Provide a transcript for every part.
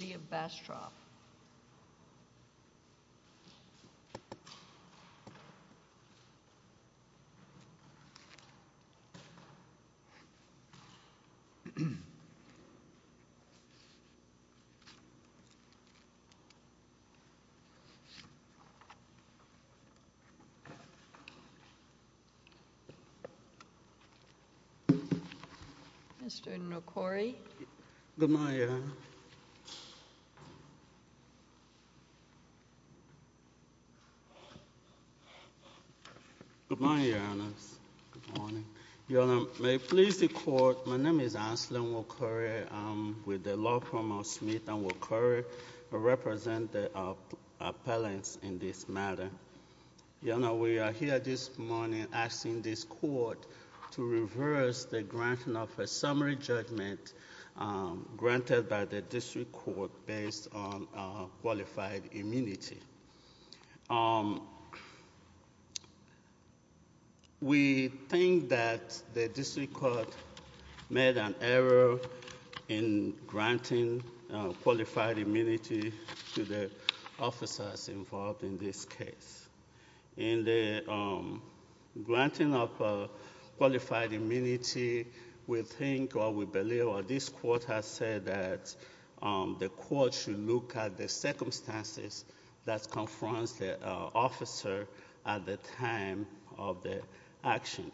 City of Bastrop Mr. Nocori Good morning, Your Honor. Good morning. Your Honor, may it please the Court, my name is Anselm Nocori. I'm with the law firm of Smith and Nocori. I represent the appellants in this matter. Your Honor, we are here this morning asking this Court to reverse the granting of a summary judgment granted by the District Court based on qualified immunity. We think that the District Court made an error in granting qualified immunity to the officers involved in this case. In the granting of qualified immunity, we think or we believe or this Court has said that the Court should look at the circumstances that confronts the officer at the time of the action.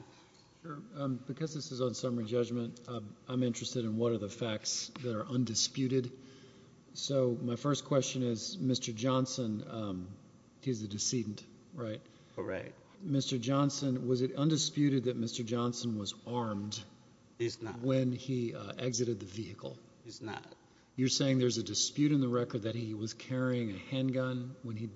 Because this is on summary judgment, I'm interested in what are the facts that are undisputed. So my first question is, Mr. Johnson, he's a decedent, right? Correct. Mr. Johnson, was it undisputed that Mr. Johnson was armed when he exited the vehicle? He's not. You're saying there's a dispute in the record that he was carrying a handgun when he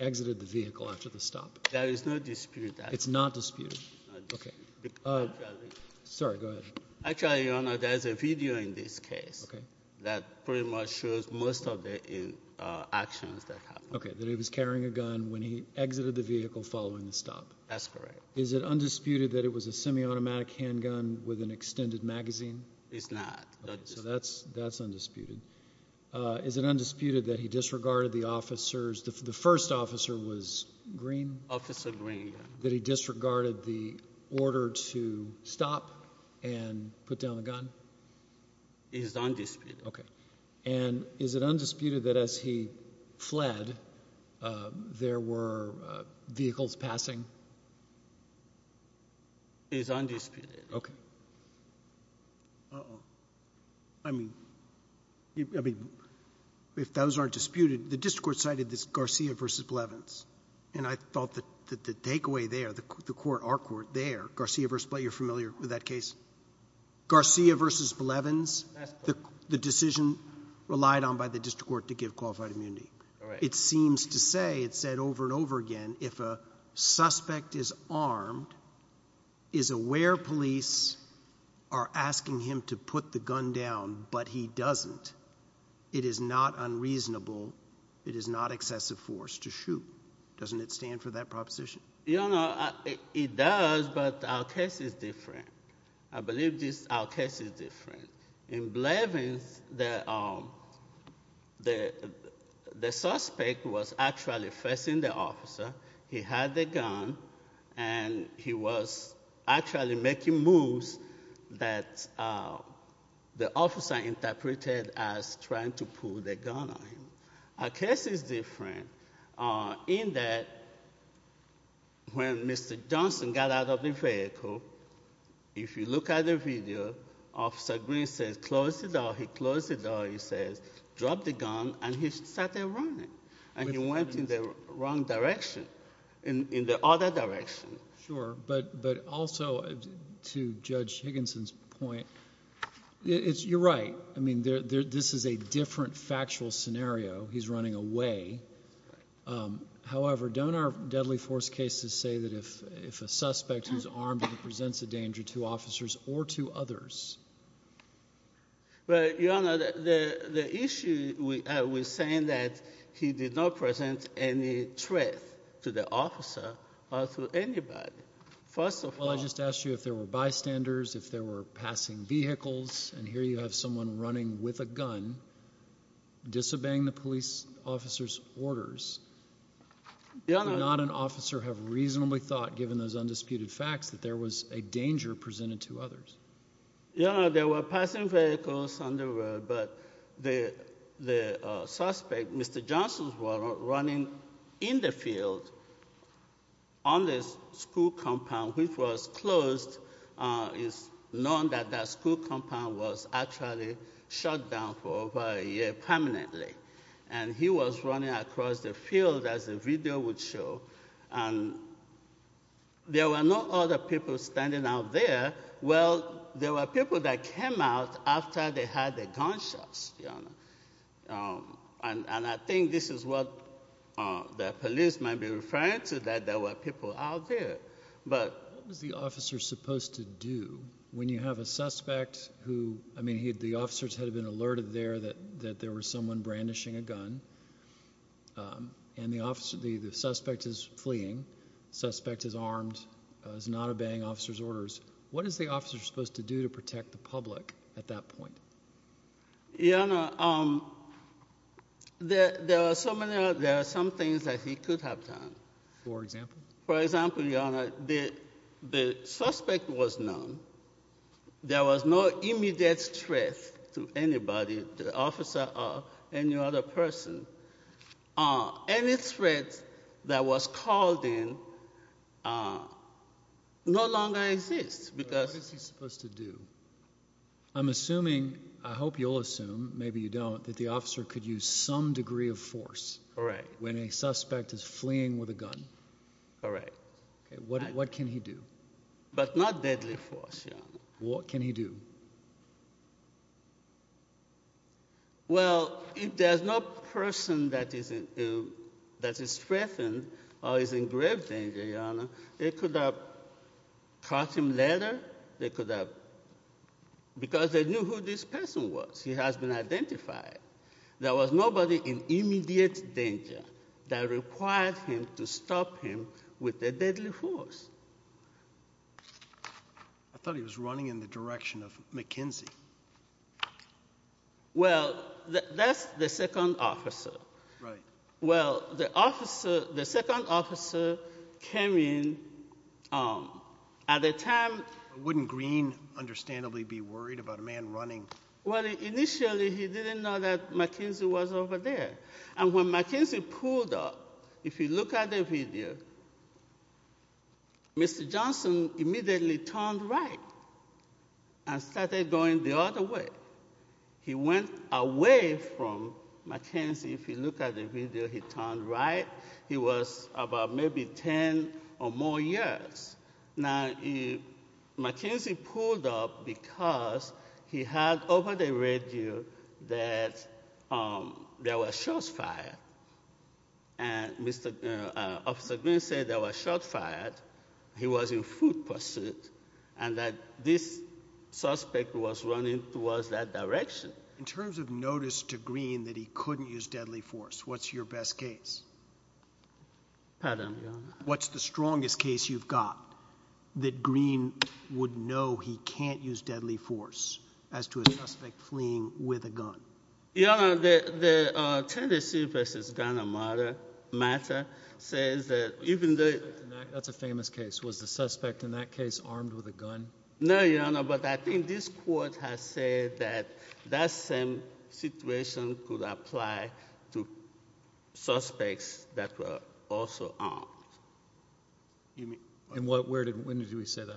exited the vehicle after the stop? There is no dispute. It's not disputed? It's not disputed. Sorry, go ahead. Actually, Your Honor, there's a video in this case that pretty much shows most of the actions that happened. Okay, that he was carrying a gun when he exited the vehicle following the stop? That's correct. Is it undisputed that it was a semi-automatic handgun with an extended magazine? It's not. So that's undisputed. Is it undisputed that he disregarded the officers, the first officer was Green? Officer Green, yeah. That he disregarded the order to stop and put down the gun? It is undisputed. Okay. And is it undisputed that as he fled, there were vehicles passing? It is undisputed. Okay. Uh-oh. I mean, if those aren't disputed, the district court cited this Garcia versus Blevins, and I thought that the takeaway there, the court, our court there, Garcia versus Blevins, you're familiar with that case? Garcia versus Blevins? That's correct. The decision relied on by the district court to give qualified immunity. All right. It seems to say, it said over and over again, if a suspect is armed, is aware police are asking him to put the gun down, but he doesn't, it is not unreasonable, it is not excessive force to shoot. Doesn't it stand for that proposition? You know, it does, but our case is different. I believe our case is different. In Blevins, the suspect was actually facing the officer. He had the gun, and he was actually making moves that the officer interpreted as trying to pull the gun on him. Our case is different in that when Mr. Johnson got out of the vehicle, if you look at the video, Officer Green says, close the door, he closed the door, he says, drop the gun, and he sat there running, and he went in the wrong direction, in the other direction. Sure, but also, to Judge Higginson's point, you're right. I mean, this is a different factual scenario. He's running away. However, don't our deadly force cases say that if a suspect who's armed presents a danger to officers or to others? Well, Your Honor, the issue I was saying that he did not present any threat to the officer or to anybody. First of all— Well, I just asked you if there were bystanders, if there were passing vehicles, and here you have someone running with a gun, disobeying the police officer's orders. Your Honor— Would not an officer have reasonably thought, given those undisputed facts, that there was a danger presented to others? Your Honor, there were passing vehicles on the road, but the suspect, Mr. Johnson, was running in the field on this school compound, which was closed. It's known that that school compound was actually shut down for over a year permanently. And he was running across the field, as the video would show, and there were no other people standing out there. Well, there were people that came out after they had their gunshots, Your Honor. And I think this is what the police might be referring to, that there were people out there. What was the officer supposed to do when you have a suspect who—I mean, the officers had been alerted there that there was someone brandishing a gun, and the suspect is fleeing, the suspect is armed, is not obeying officers' orders. What is the officer supposed to do to protect the public at that point? Your Honor, there are some things that he could have done. For example? For example, Your Honor, the suspect was known. There was no immediate threat to anybody, the officer or any other person. Any threat that was called in no longer exists, because— What is he supposed to do? I'm assuming—I hope you'll assume, maybe you don't—that the officer could use some Correct. Okay, what can he do? But not deadly force, Your Honor. What can he do? Well, if there's no person that is threatened or is in grave danger, Your Honor, they could have caught him later. They could have—because they knew who this person was. He has been identified. There was nobody in immediate danger that required him to stop him with the deadly force. I thought he was running in the direction of McKenzie. Well, that's the second officer. Right. Well, the officer—the second officer came in at a time— Wouldn't Green understandably be worried about a man running? Well, initially, he didn't know that McKenzie was over there. And when McKenzie pulled up, if you look at the video, Mr. Johnson immediately turned right and started going the other way. He went away from McKenzie. If you look at the video, he turned right. He was about maybe 10 or more yards. Now, McKenzie pulled up because he heard over the radio that there were shots fired. And Mr.—Officer Green said there were shots fired. He was in foot pursuit. And that this suspect was running towards that direction. In terms of notice to Green that he couldn't use deadly force, what's your best case? Pardon, Your Honor? What's the strongest case you've got that Green would know he can't use deadly force as to a suspect fleeing with a gun? Your Honor, the Tennessee v. Ghana matter says that even though— That's a famous case. Was the suspect in that case armed with a gun? No, Your Honor. But I think this court has said that that same situation could apply to suspects that were also armed. And when did we say that?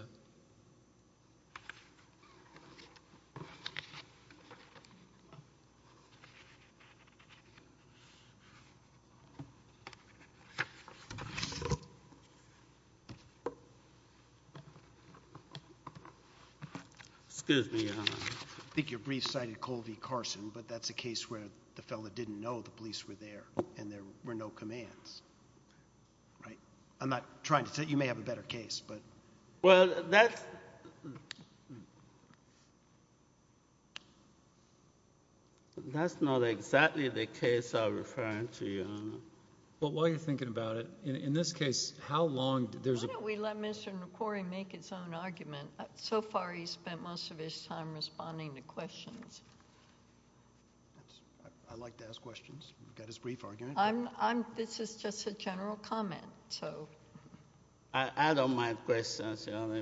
Excuse me, Your Honor. I think your brief cited Colvie Carson, but that's a case where the fellow didn't know the police were there and there were no commands, right? I'm not trying to—you may have a better case, but— Well, that's— That's not exactly the case I'm referring to, Your Honor. But while you're thinking about it, in this case, how long— Why don't we let Mr. McQuarrie make his own argument? So far, he's spent most of his time responding to questions. I like to ask questions. He's got his brief argument. This is just a general comment, so— I don't mind questions, Your Honor.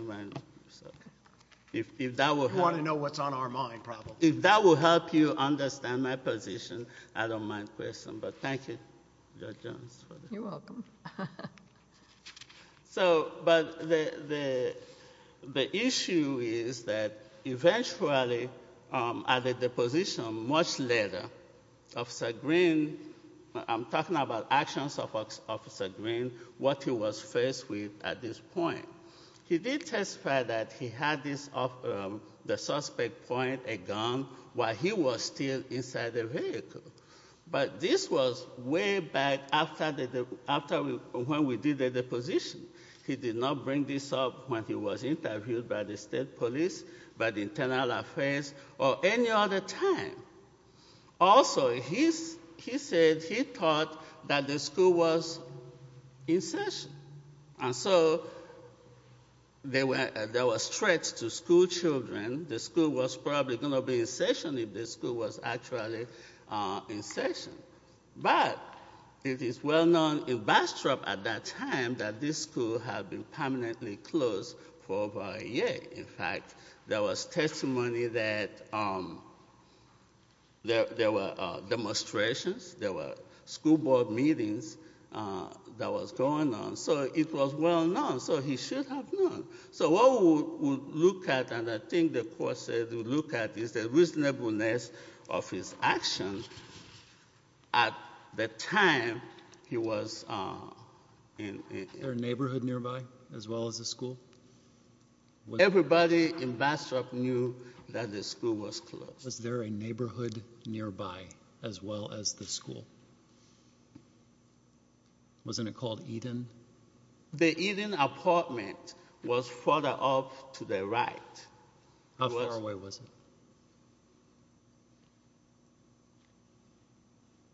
You want to know what's on our mind, probably. If that will help you understand my position, I don't mind questions. But thank you, Judge Jones. You're welcome. But the issue is that eventually, at the deposition much later, Officer Green— I'm talking about actions of Officer Green, what he was faced with at this point. He did testify that he had the suspect point a gun while he was still inside the vehicle. But this was way back after when we did the deposition. He did not bring this up when he was interviewed by the state police, by the Internal Affairs, or any other time. Also, he said he thought that the school was in session. And so there were threats to schoolchildren. The school was probably going to be in session if the school was actually in session. But it is well known in Bastrop at that time that this school had been permanently closed for over a year. In fact, there was testimony that there were demonstrations. There were school board meetings that was going on. So it was well known. So he should have known. So what we would look at, and I think the court said we would look at, is the reasonableness of his actions at the time he was in— Was there a neighborhood nearby as well as the school? Everybody in Bastrop knew that the school was closed. Was there a neighborhood nearby as well as the school? Wasn't it called Eden? The Eden apartment was further up to the right. How far away was it?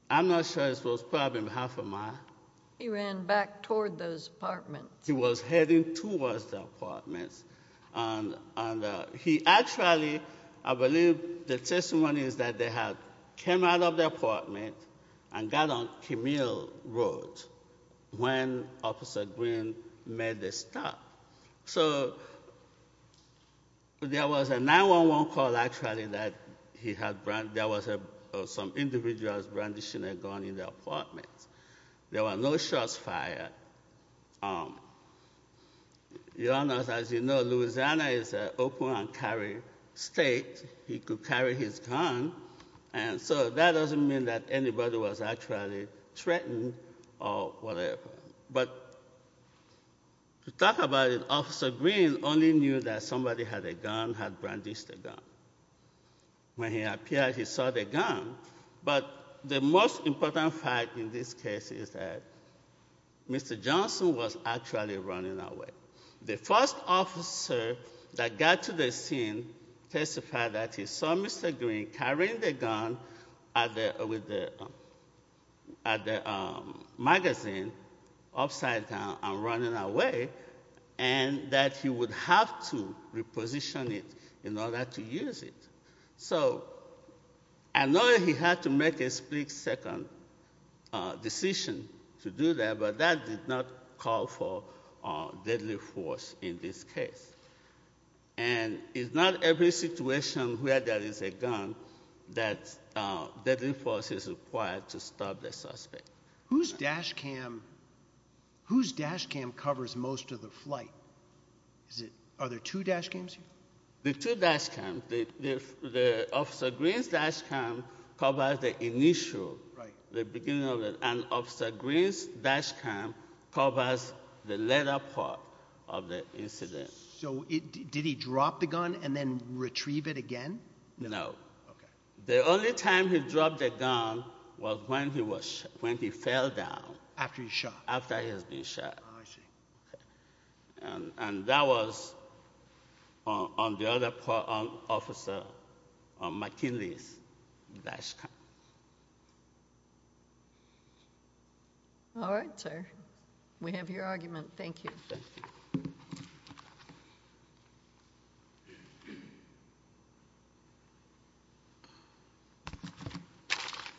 I'm not sure. It was probably half a mile. He ran back toward those apartments. He was heading towards the apartments. And he actually—I believe the testimony is that they had come out of the apartment and got on Camille Road. When Officer Green made the stop. So there was a 911 call, actually, that he had—there was some individual brandishing a gun in the apartment. There were no shots fired. As you know, Louisiana is an open and carry state. He could carry his gun. And so that doesn't mean that anybody was actually threatened or whatever. But to talk about it, Officer Green only knew that somebody had a gun, had brandished a gun. When he appeared, he saw the gun. But the most important fact in this case is that Mr. Johnson was actually running away. The first officer that got to the scene testified that he saw Mr. Green carrying the gun with the magazine upside down and running away. And that he would have to reposition it in order to use it. So I know he had to make a split-second decision to do that, but that did not call for deadly force in this case. And it's not every situation where there is a gun that deadly force is required to stop the suspect. Whose dash cam covers most of the flight? Are there two dash cams here? There are two dash cams. Officer Green's dash cam covers the initial, the beginning of it. And Officer Green's dash cam covers the later part of the incident. So did he drop the gun and then retrieve it again? No. Okay. The only time he dropped the gun was when he fell down. After he was shot? After he had been shot. I see. And that was on the other part of Officer McKinley's dash cam. All right, sir. We have your argument. Thank you.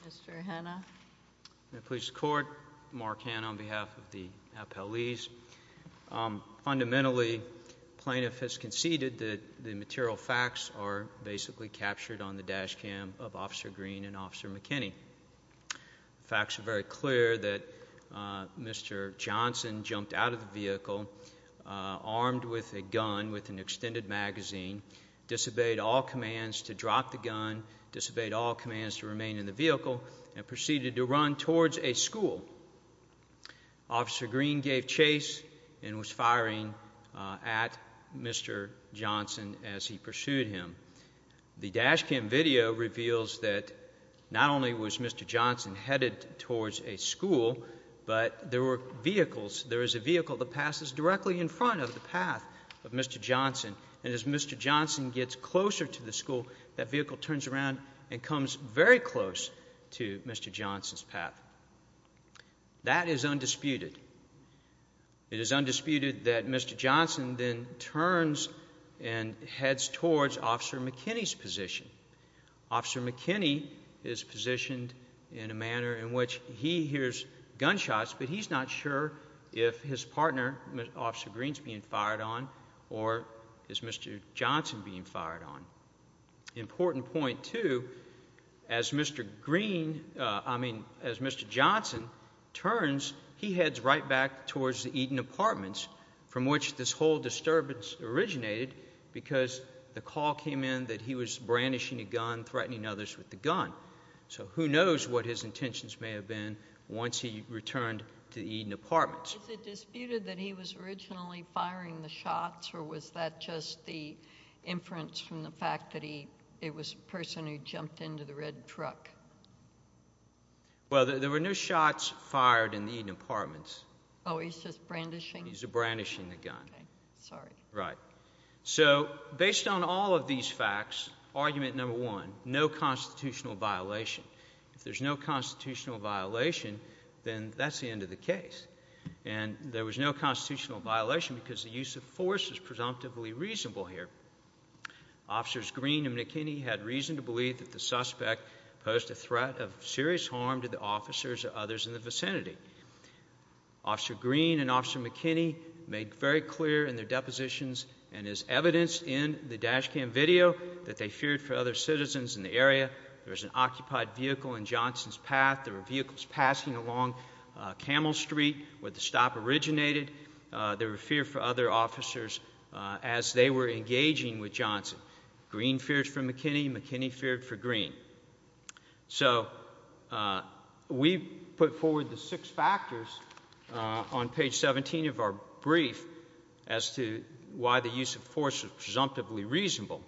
Mr. Hanna. Police Court. Mark Hanna on behalf of the appellees. Fundamentally, plaintiff has conceded that the material facts are basically captured on the dash cam of Officer Green and Officer McKinney. The facts are very clear that Mr. Johnson jumped out of the vehicle armed with a gun with an extended magazine, disobeyed all commands to drop the gun, disobeyed all commands to remain in the vehicle, and proceeded to run towards a school. Officer Green gave chase and was firing at Mr. Johnson as he pursued him. The dash cam video reveals that not only was Mr. Johnson headed towards a school, but there were vehicles. There is a vehicle that passes directly in front of the path of Mr. Johnson. And as Mr. Johnson gets closer to the school, that vehicle turns around and comes very close to Mr. Johnson's path. That is undisputed. It is undisputed that Mr. Johnson then turns and heads towards Officer McKinney's position. Officer McKinney is positioned in a manner in which he hears gunshots, but he's not sure if his partner, Officer Green, is being fired on or is Mr. Johnson being fired on. Important point, too, as Mr. Johnson turns, he heads right back towards the Eaton Apartments, from which this whole disturbance originated because the call came in that he was brandishing a gun, threatening others with the gun. So who knows what his intentions may have been once he returned to the Eaton Apartments. Is it disputed that he was originally firing the shots, or was that just the inference from the fact that it was a person who jumped into the red truck? Well, there were no shots fired in the Eaton Apartments. Oh, he's just brandishing? He's brandishing the gun. Sorry. Right. So based on all of these facts, argument number one, no constitutional violation. If there's no constitutional violation, then that's the end of the case. And there was no constitutional violation because the use of force is presumptively reasonable here. Officers Green and McKinney had reason to believe that the suspect posed a threat of serious harm to the officers or others in the vicinity. Officer Green and Officer McKinney made very clear in their depositions and is evidenced in the dash cam video that they feared for other citizens in the area. There was an occupied vehicle in Johnson's path. There were vehicles passing along Camel Street where the stop originated. There were fear for other officers as they were engaging with Johnson. Green feared for McKinney. McKinney feared for Green. So we put forward the six factors on page 17 of our brief as to why the use of force is presumptively reasonable.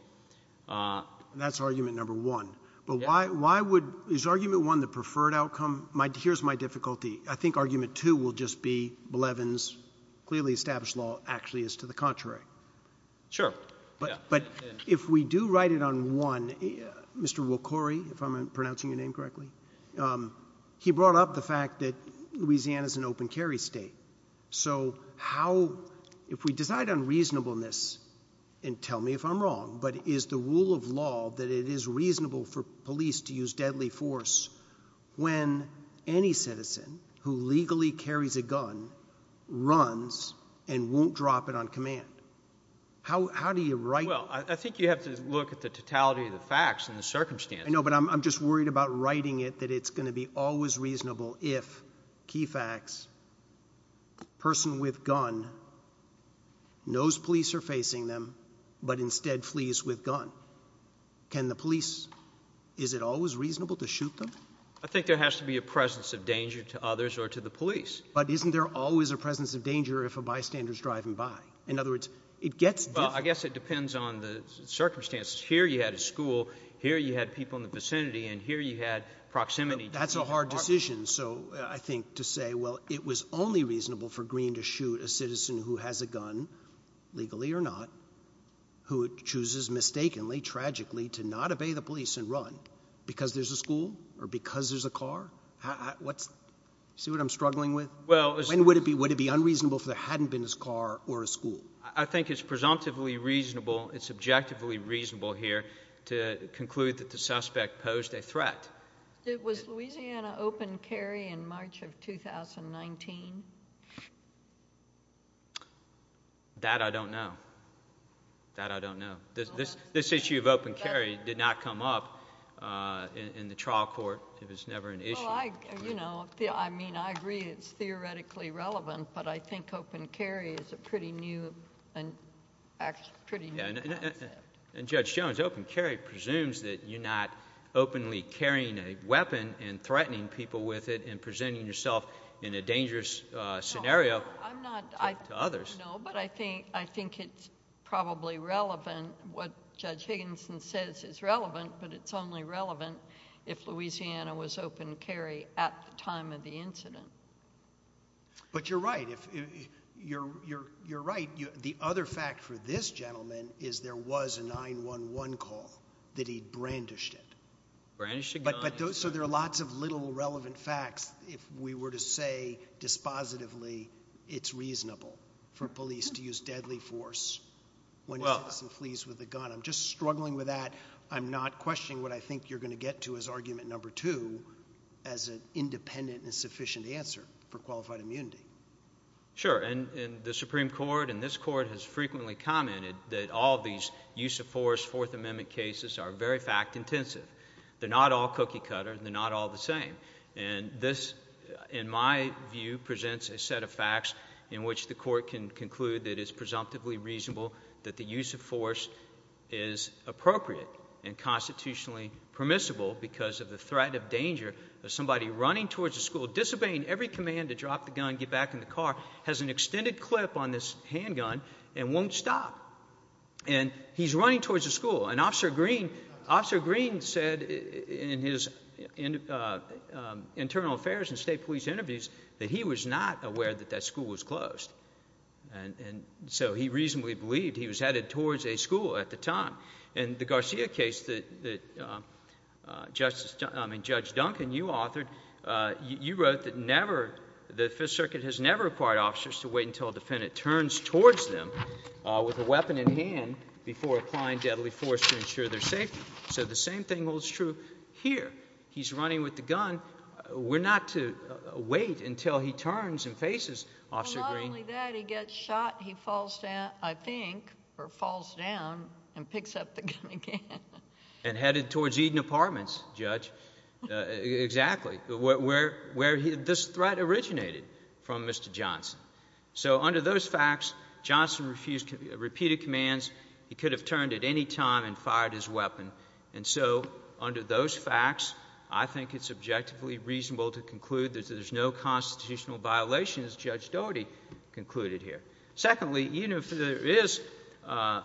That's argument number one. But why would — is argument one the preferred outcome? Here's my difficulty. I think argument two will just be Blevins' clearly established law actually is to the contrary. Sure. But if we do write it on one, Mr. Wakori, if I'm pronouncing your name correctly, he brought up the fact that Louisiana is an open carry state. So how — if we decide on reasonableness, and tell me if I'm wrong, but is the rule of law that it is reasonable for police to use deadly force when any citizen who legally carries a gun runs and won't drop it on command? How do you write — Well, I think you have to look at the totality of the facts and the circumstances. I know, but I'm just worried about writing it that it's going to be always reasonable if, key facts, a person with gun knows police are facing them but instead flees with gun. Can the police — is it always reasonable to shoot them? I think there has to be a presence of danger to others or to the police. But isn't there always a presence of danger if a bystander is driving by? In other words, it gets — Well, I guess it depends on the circumstances. Here you had a school, here you had people in the vicinity, and here you had proximity. That's a hard decision. So I think to say, well, it was only reasonable for Greene to shoot a citizen who has a gun, legally or not, who chooses mistakenly, tragically, to not obey the police and run because there's a school or because there's a car, what's — see what I'm struggling with? Well — When would it be unreasonable if there hadn't been this car or a school? I think it's presumptively reasonable, it's objectively reasonable here to conclude that the suspect posed a threat. Was Louisiana open carry in March of 2019? That I don't know. That I don't know. This issue of open carry did not come up in the trial court. It was never an issue. Well, I — you know, I mean, I agree it's theoretically relevant, but I think open carry is a pretty new — pretty new asset. And Judge Jones, open carry presumes that you're not openly carrying a weapon and threatening people with it and presenting yourself in a dangerous scenario to others. No, but I think — I think it's probably relevant, what Judge Higginson says is relevant, but it's only relevant if Louisiana was open carry at the time of the incident. But you're right. If — you're — you're — you're right. The other fact for this gentleman is there was a 911 call, that he brandished it. Brandished a gun. But those — so there are lots of little relevant facts if we were to say dispositively it's reasonable for police to use deadly force when a person flees with a gun. I'm just struggling with that. I'm not questioning what I think you're going to get to as argument number two as an independent and sufficient answer for qualified immunity. Sure. And the Supreme Court and this court has frequently commented that all these use of force Fourth Amendment cases are very fact-intensive. They're not all cookie-cutter and they're not all the same. And this, in my view, presents a set of facts in which the court can conclude that it's presumptively reasonable that the use of force is appropriate and constitutionally permissible because of the threat of danger of somebody running towards a school, disobeying every command to drop the gun, get back in the car, has an extended clip on this handgun and won't stop. And he's running towards a school. And Officer Green said in his internal affairs and state police interviews that he was not aware that that school was closed. And so he reasonably believed he was headed towards a school at the time. And the Garcia case that Judge Duncan, you authored, you wrote that the Fifth Circuit has never required officers to wait until a defendant turns towards them with a weapon in hand before applying deadly force to ensure their safety. So the same thing holds true here. He's running with the gun. We're not to wait until he turns and faces Officer Green. And not only that, he gets shot, he falls down, I think, or falls down and picks up the gun again. And headed towards Eden Apartments, Judge. Exactly. Where this threat originated from Mr. Johnson. So under those facts, Johnson refused repeated commands. He could have turned at any time and fired his weapon. And so under those facts, I think it's objectively reasonable to conclude that there's no constitutional violation as Judge Dougherty concluded here. Secondly, even if there is a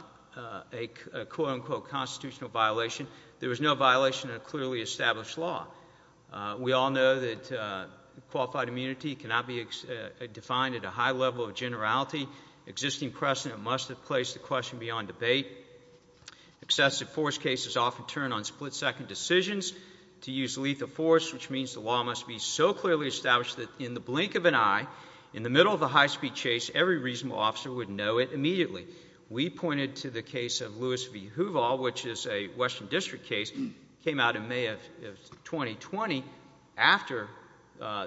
quote unquote constitutional violation, there is no violation of clearly established law. We all know that qualified immunity cannot be defined at a high level of generality. Existing precedent must have placed the question beyond debate. Excessive force cases often turn on split-second decisions to use lethal force, which means the law must be so clearly established that in the blink of an eye, in the middle of a high-speed chase, every reasonable officer would know it immediately. We pointed to the case of Lewis v. Hoover, which is a Western District case, came out in May of 2020 after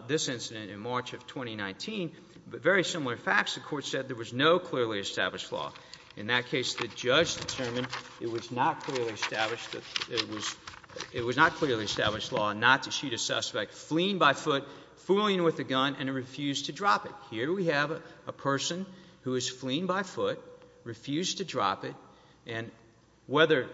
this incident in March of 2019. But very similar facts, the court said there was no clearly established law. In that case, the judge determined it was not clearly established law not to shoot a suspect fleeing by foot, fooling with a gun, and to refuse to drop it. Here we have a person who is fleeing by foot, refused to drop it. And whether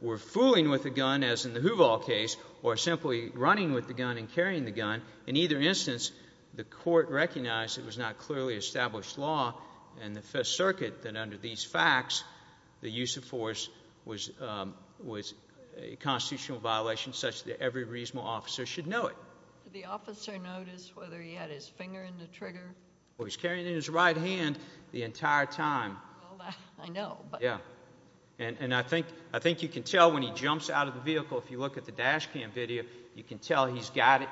we're fooling with a gun, as in the Hoover case, or simply running with the gun and carrying the gun, in either instance, the court recognized it was not clearly established law in the Fifth Circuit that under these facts, the use of force was a constitutional violation such that every reasonable officer should know it. Did the officer notice whether he had his finger in the trigger? Well, he was carrying it in his right hand the entire time. Well, I know. And I think you can tell when he jumps out of the vehicle. If you look at the dash cam video, you can tell he's got it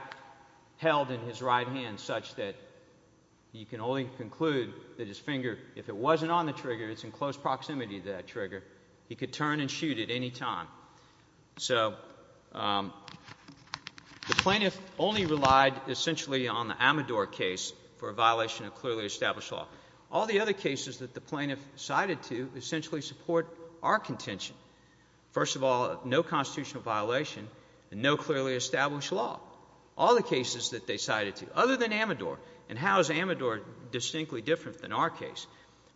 held in his right hand such that you can only conclude that his finger, if it wasn't on the trigger, it's in close proximity to that trigger, he could turn and shoot at any time. So the plaintiff only relied essentially on the Amador case for a violation of clearly established law. All the other cases that the plaintiff cited to essentially support our contention. First of all, no constitutional violation and no clearly established law. All the cases that they cited to, other than Amador. And how is Amador distinctly different than our case?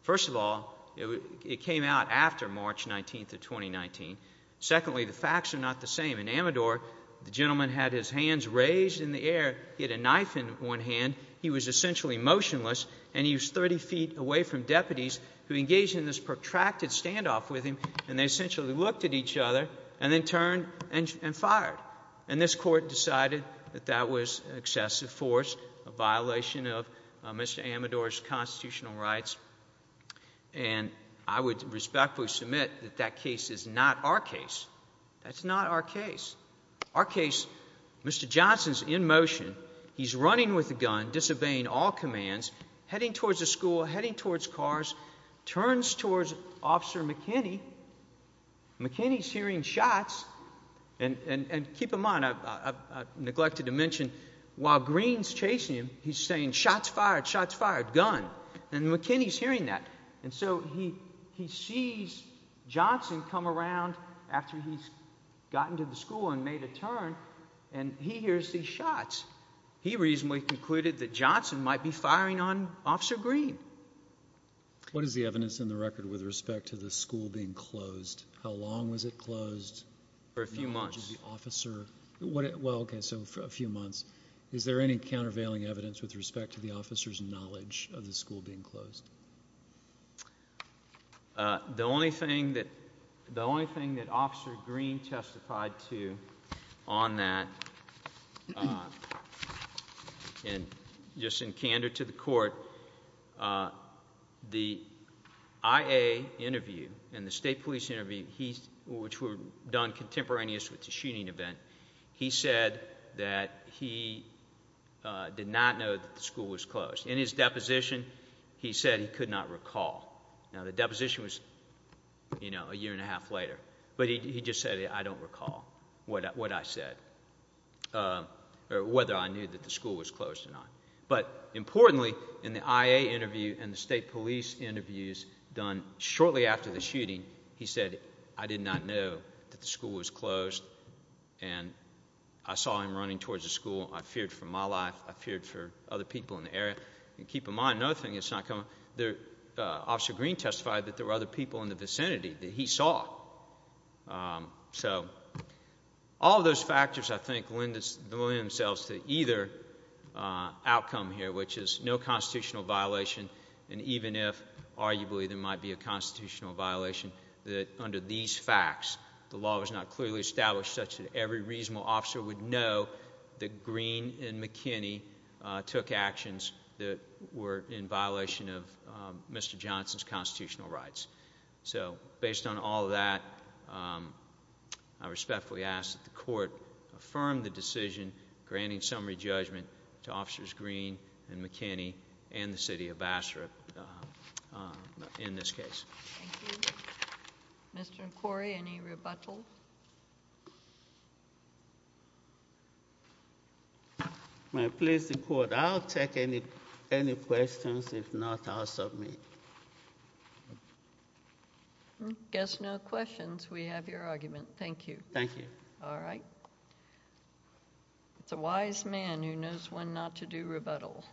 First of all, it came out after March 19th of 2019. Secondly, the facts are not the same. In Amador, the gentleman had his hands raised in the air, he had a knife in one hand, he was essentially motionless, and he was 30 feet away from deputies who engaged in this protracted standoff with him, and they essentially looked at each other and then turned and fired. And this court decided that that was excessive force, a violation of Mr. Amador's constitutional rights. And I would respectfully submit that that case is not our case. That's not our case. Our case, Mr. Johnson's in motion, he's running with a gun, disobeying all commands, heading towards the school, heading towards cars, turns towards Officer McKinney, McKinney's hearing shots, and keep in mind, I've neglected to mention, while Green's chasing him, he's saying, shots fired, shots fired, gun. And McKinney's hearing that. And so he sees Johnson come around after he's gotten to the school and made a turn, and he hears these shots. He reasonably concluded that Johnson might be firing on Officer Green. What is the evidence in the record with respect to the school being closed? How long was it closed? For a few months. Well, okay, so for a few months. Is there any countervailing evidence with respect to the officer's knowledge of the school being closed? The only thing that Officer Green testified to on that, and just in candor to the court, the IA interview and the state police interview, which were done contemporaneous with the shooting event, he said that he did not know that the school was closed. In his deposition, he said he could not recall. Now, the deposition was a year and a half later, but he just said, I don't recall what I said or whether I knew that the school was closed or not. But importantly, in the IA interview and the state police interviews done shortly after the shooting, he said, I did not know that the school was closed, and I saw him running towards the school. I feared for my life. I feared for other people in the area. And keep in mind, another thing that's not coming, Officer Green testified that there were other people in the vicinity that he saw. So all of those factors, I think, lend themselves to either outcome here, which is no constitutional violation, and even if, arguably, there might be a constitutional violation, that under these facts, the law was not clearly established such that every reasonable officer would know that Green and McKinney took actions that were in violation of Mr. Johnson's constitutional rights. So based on all of that, I respectfully ask that the court affirm the decision granting summary judgment to Officers Green and McKinney and the city of Bassarab in this case. Thank you. Mr. McQuarrie, any rebuttals? If I may please the court, I'll take any questions. If not, I'll submit. Guess no questions. We have your argument. Thank you. Thank you. All right. It's a wise man who knows when not to do rebuttal.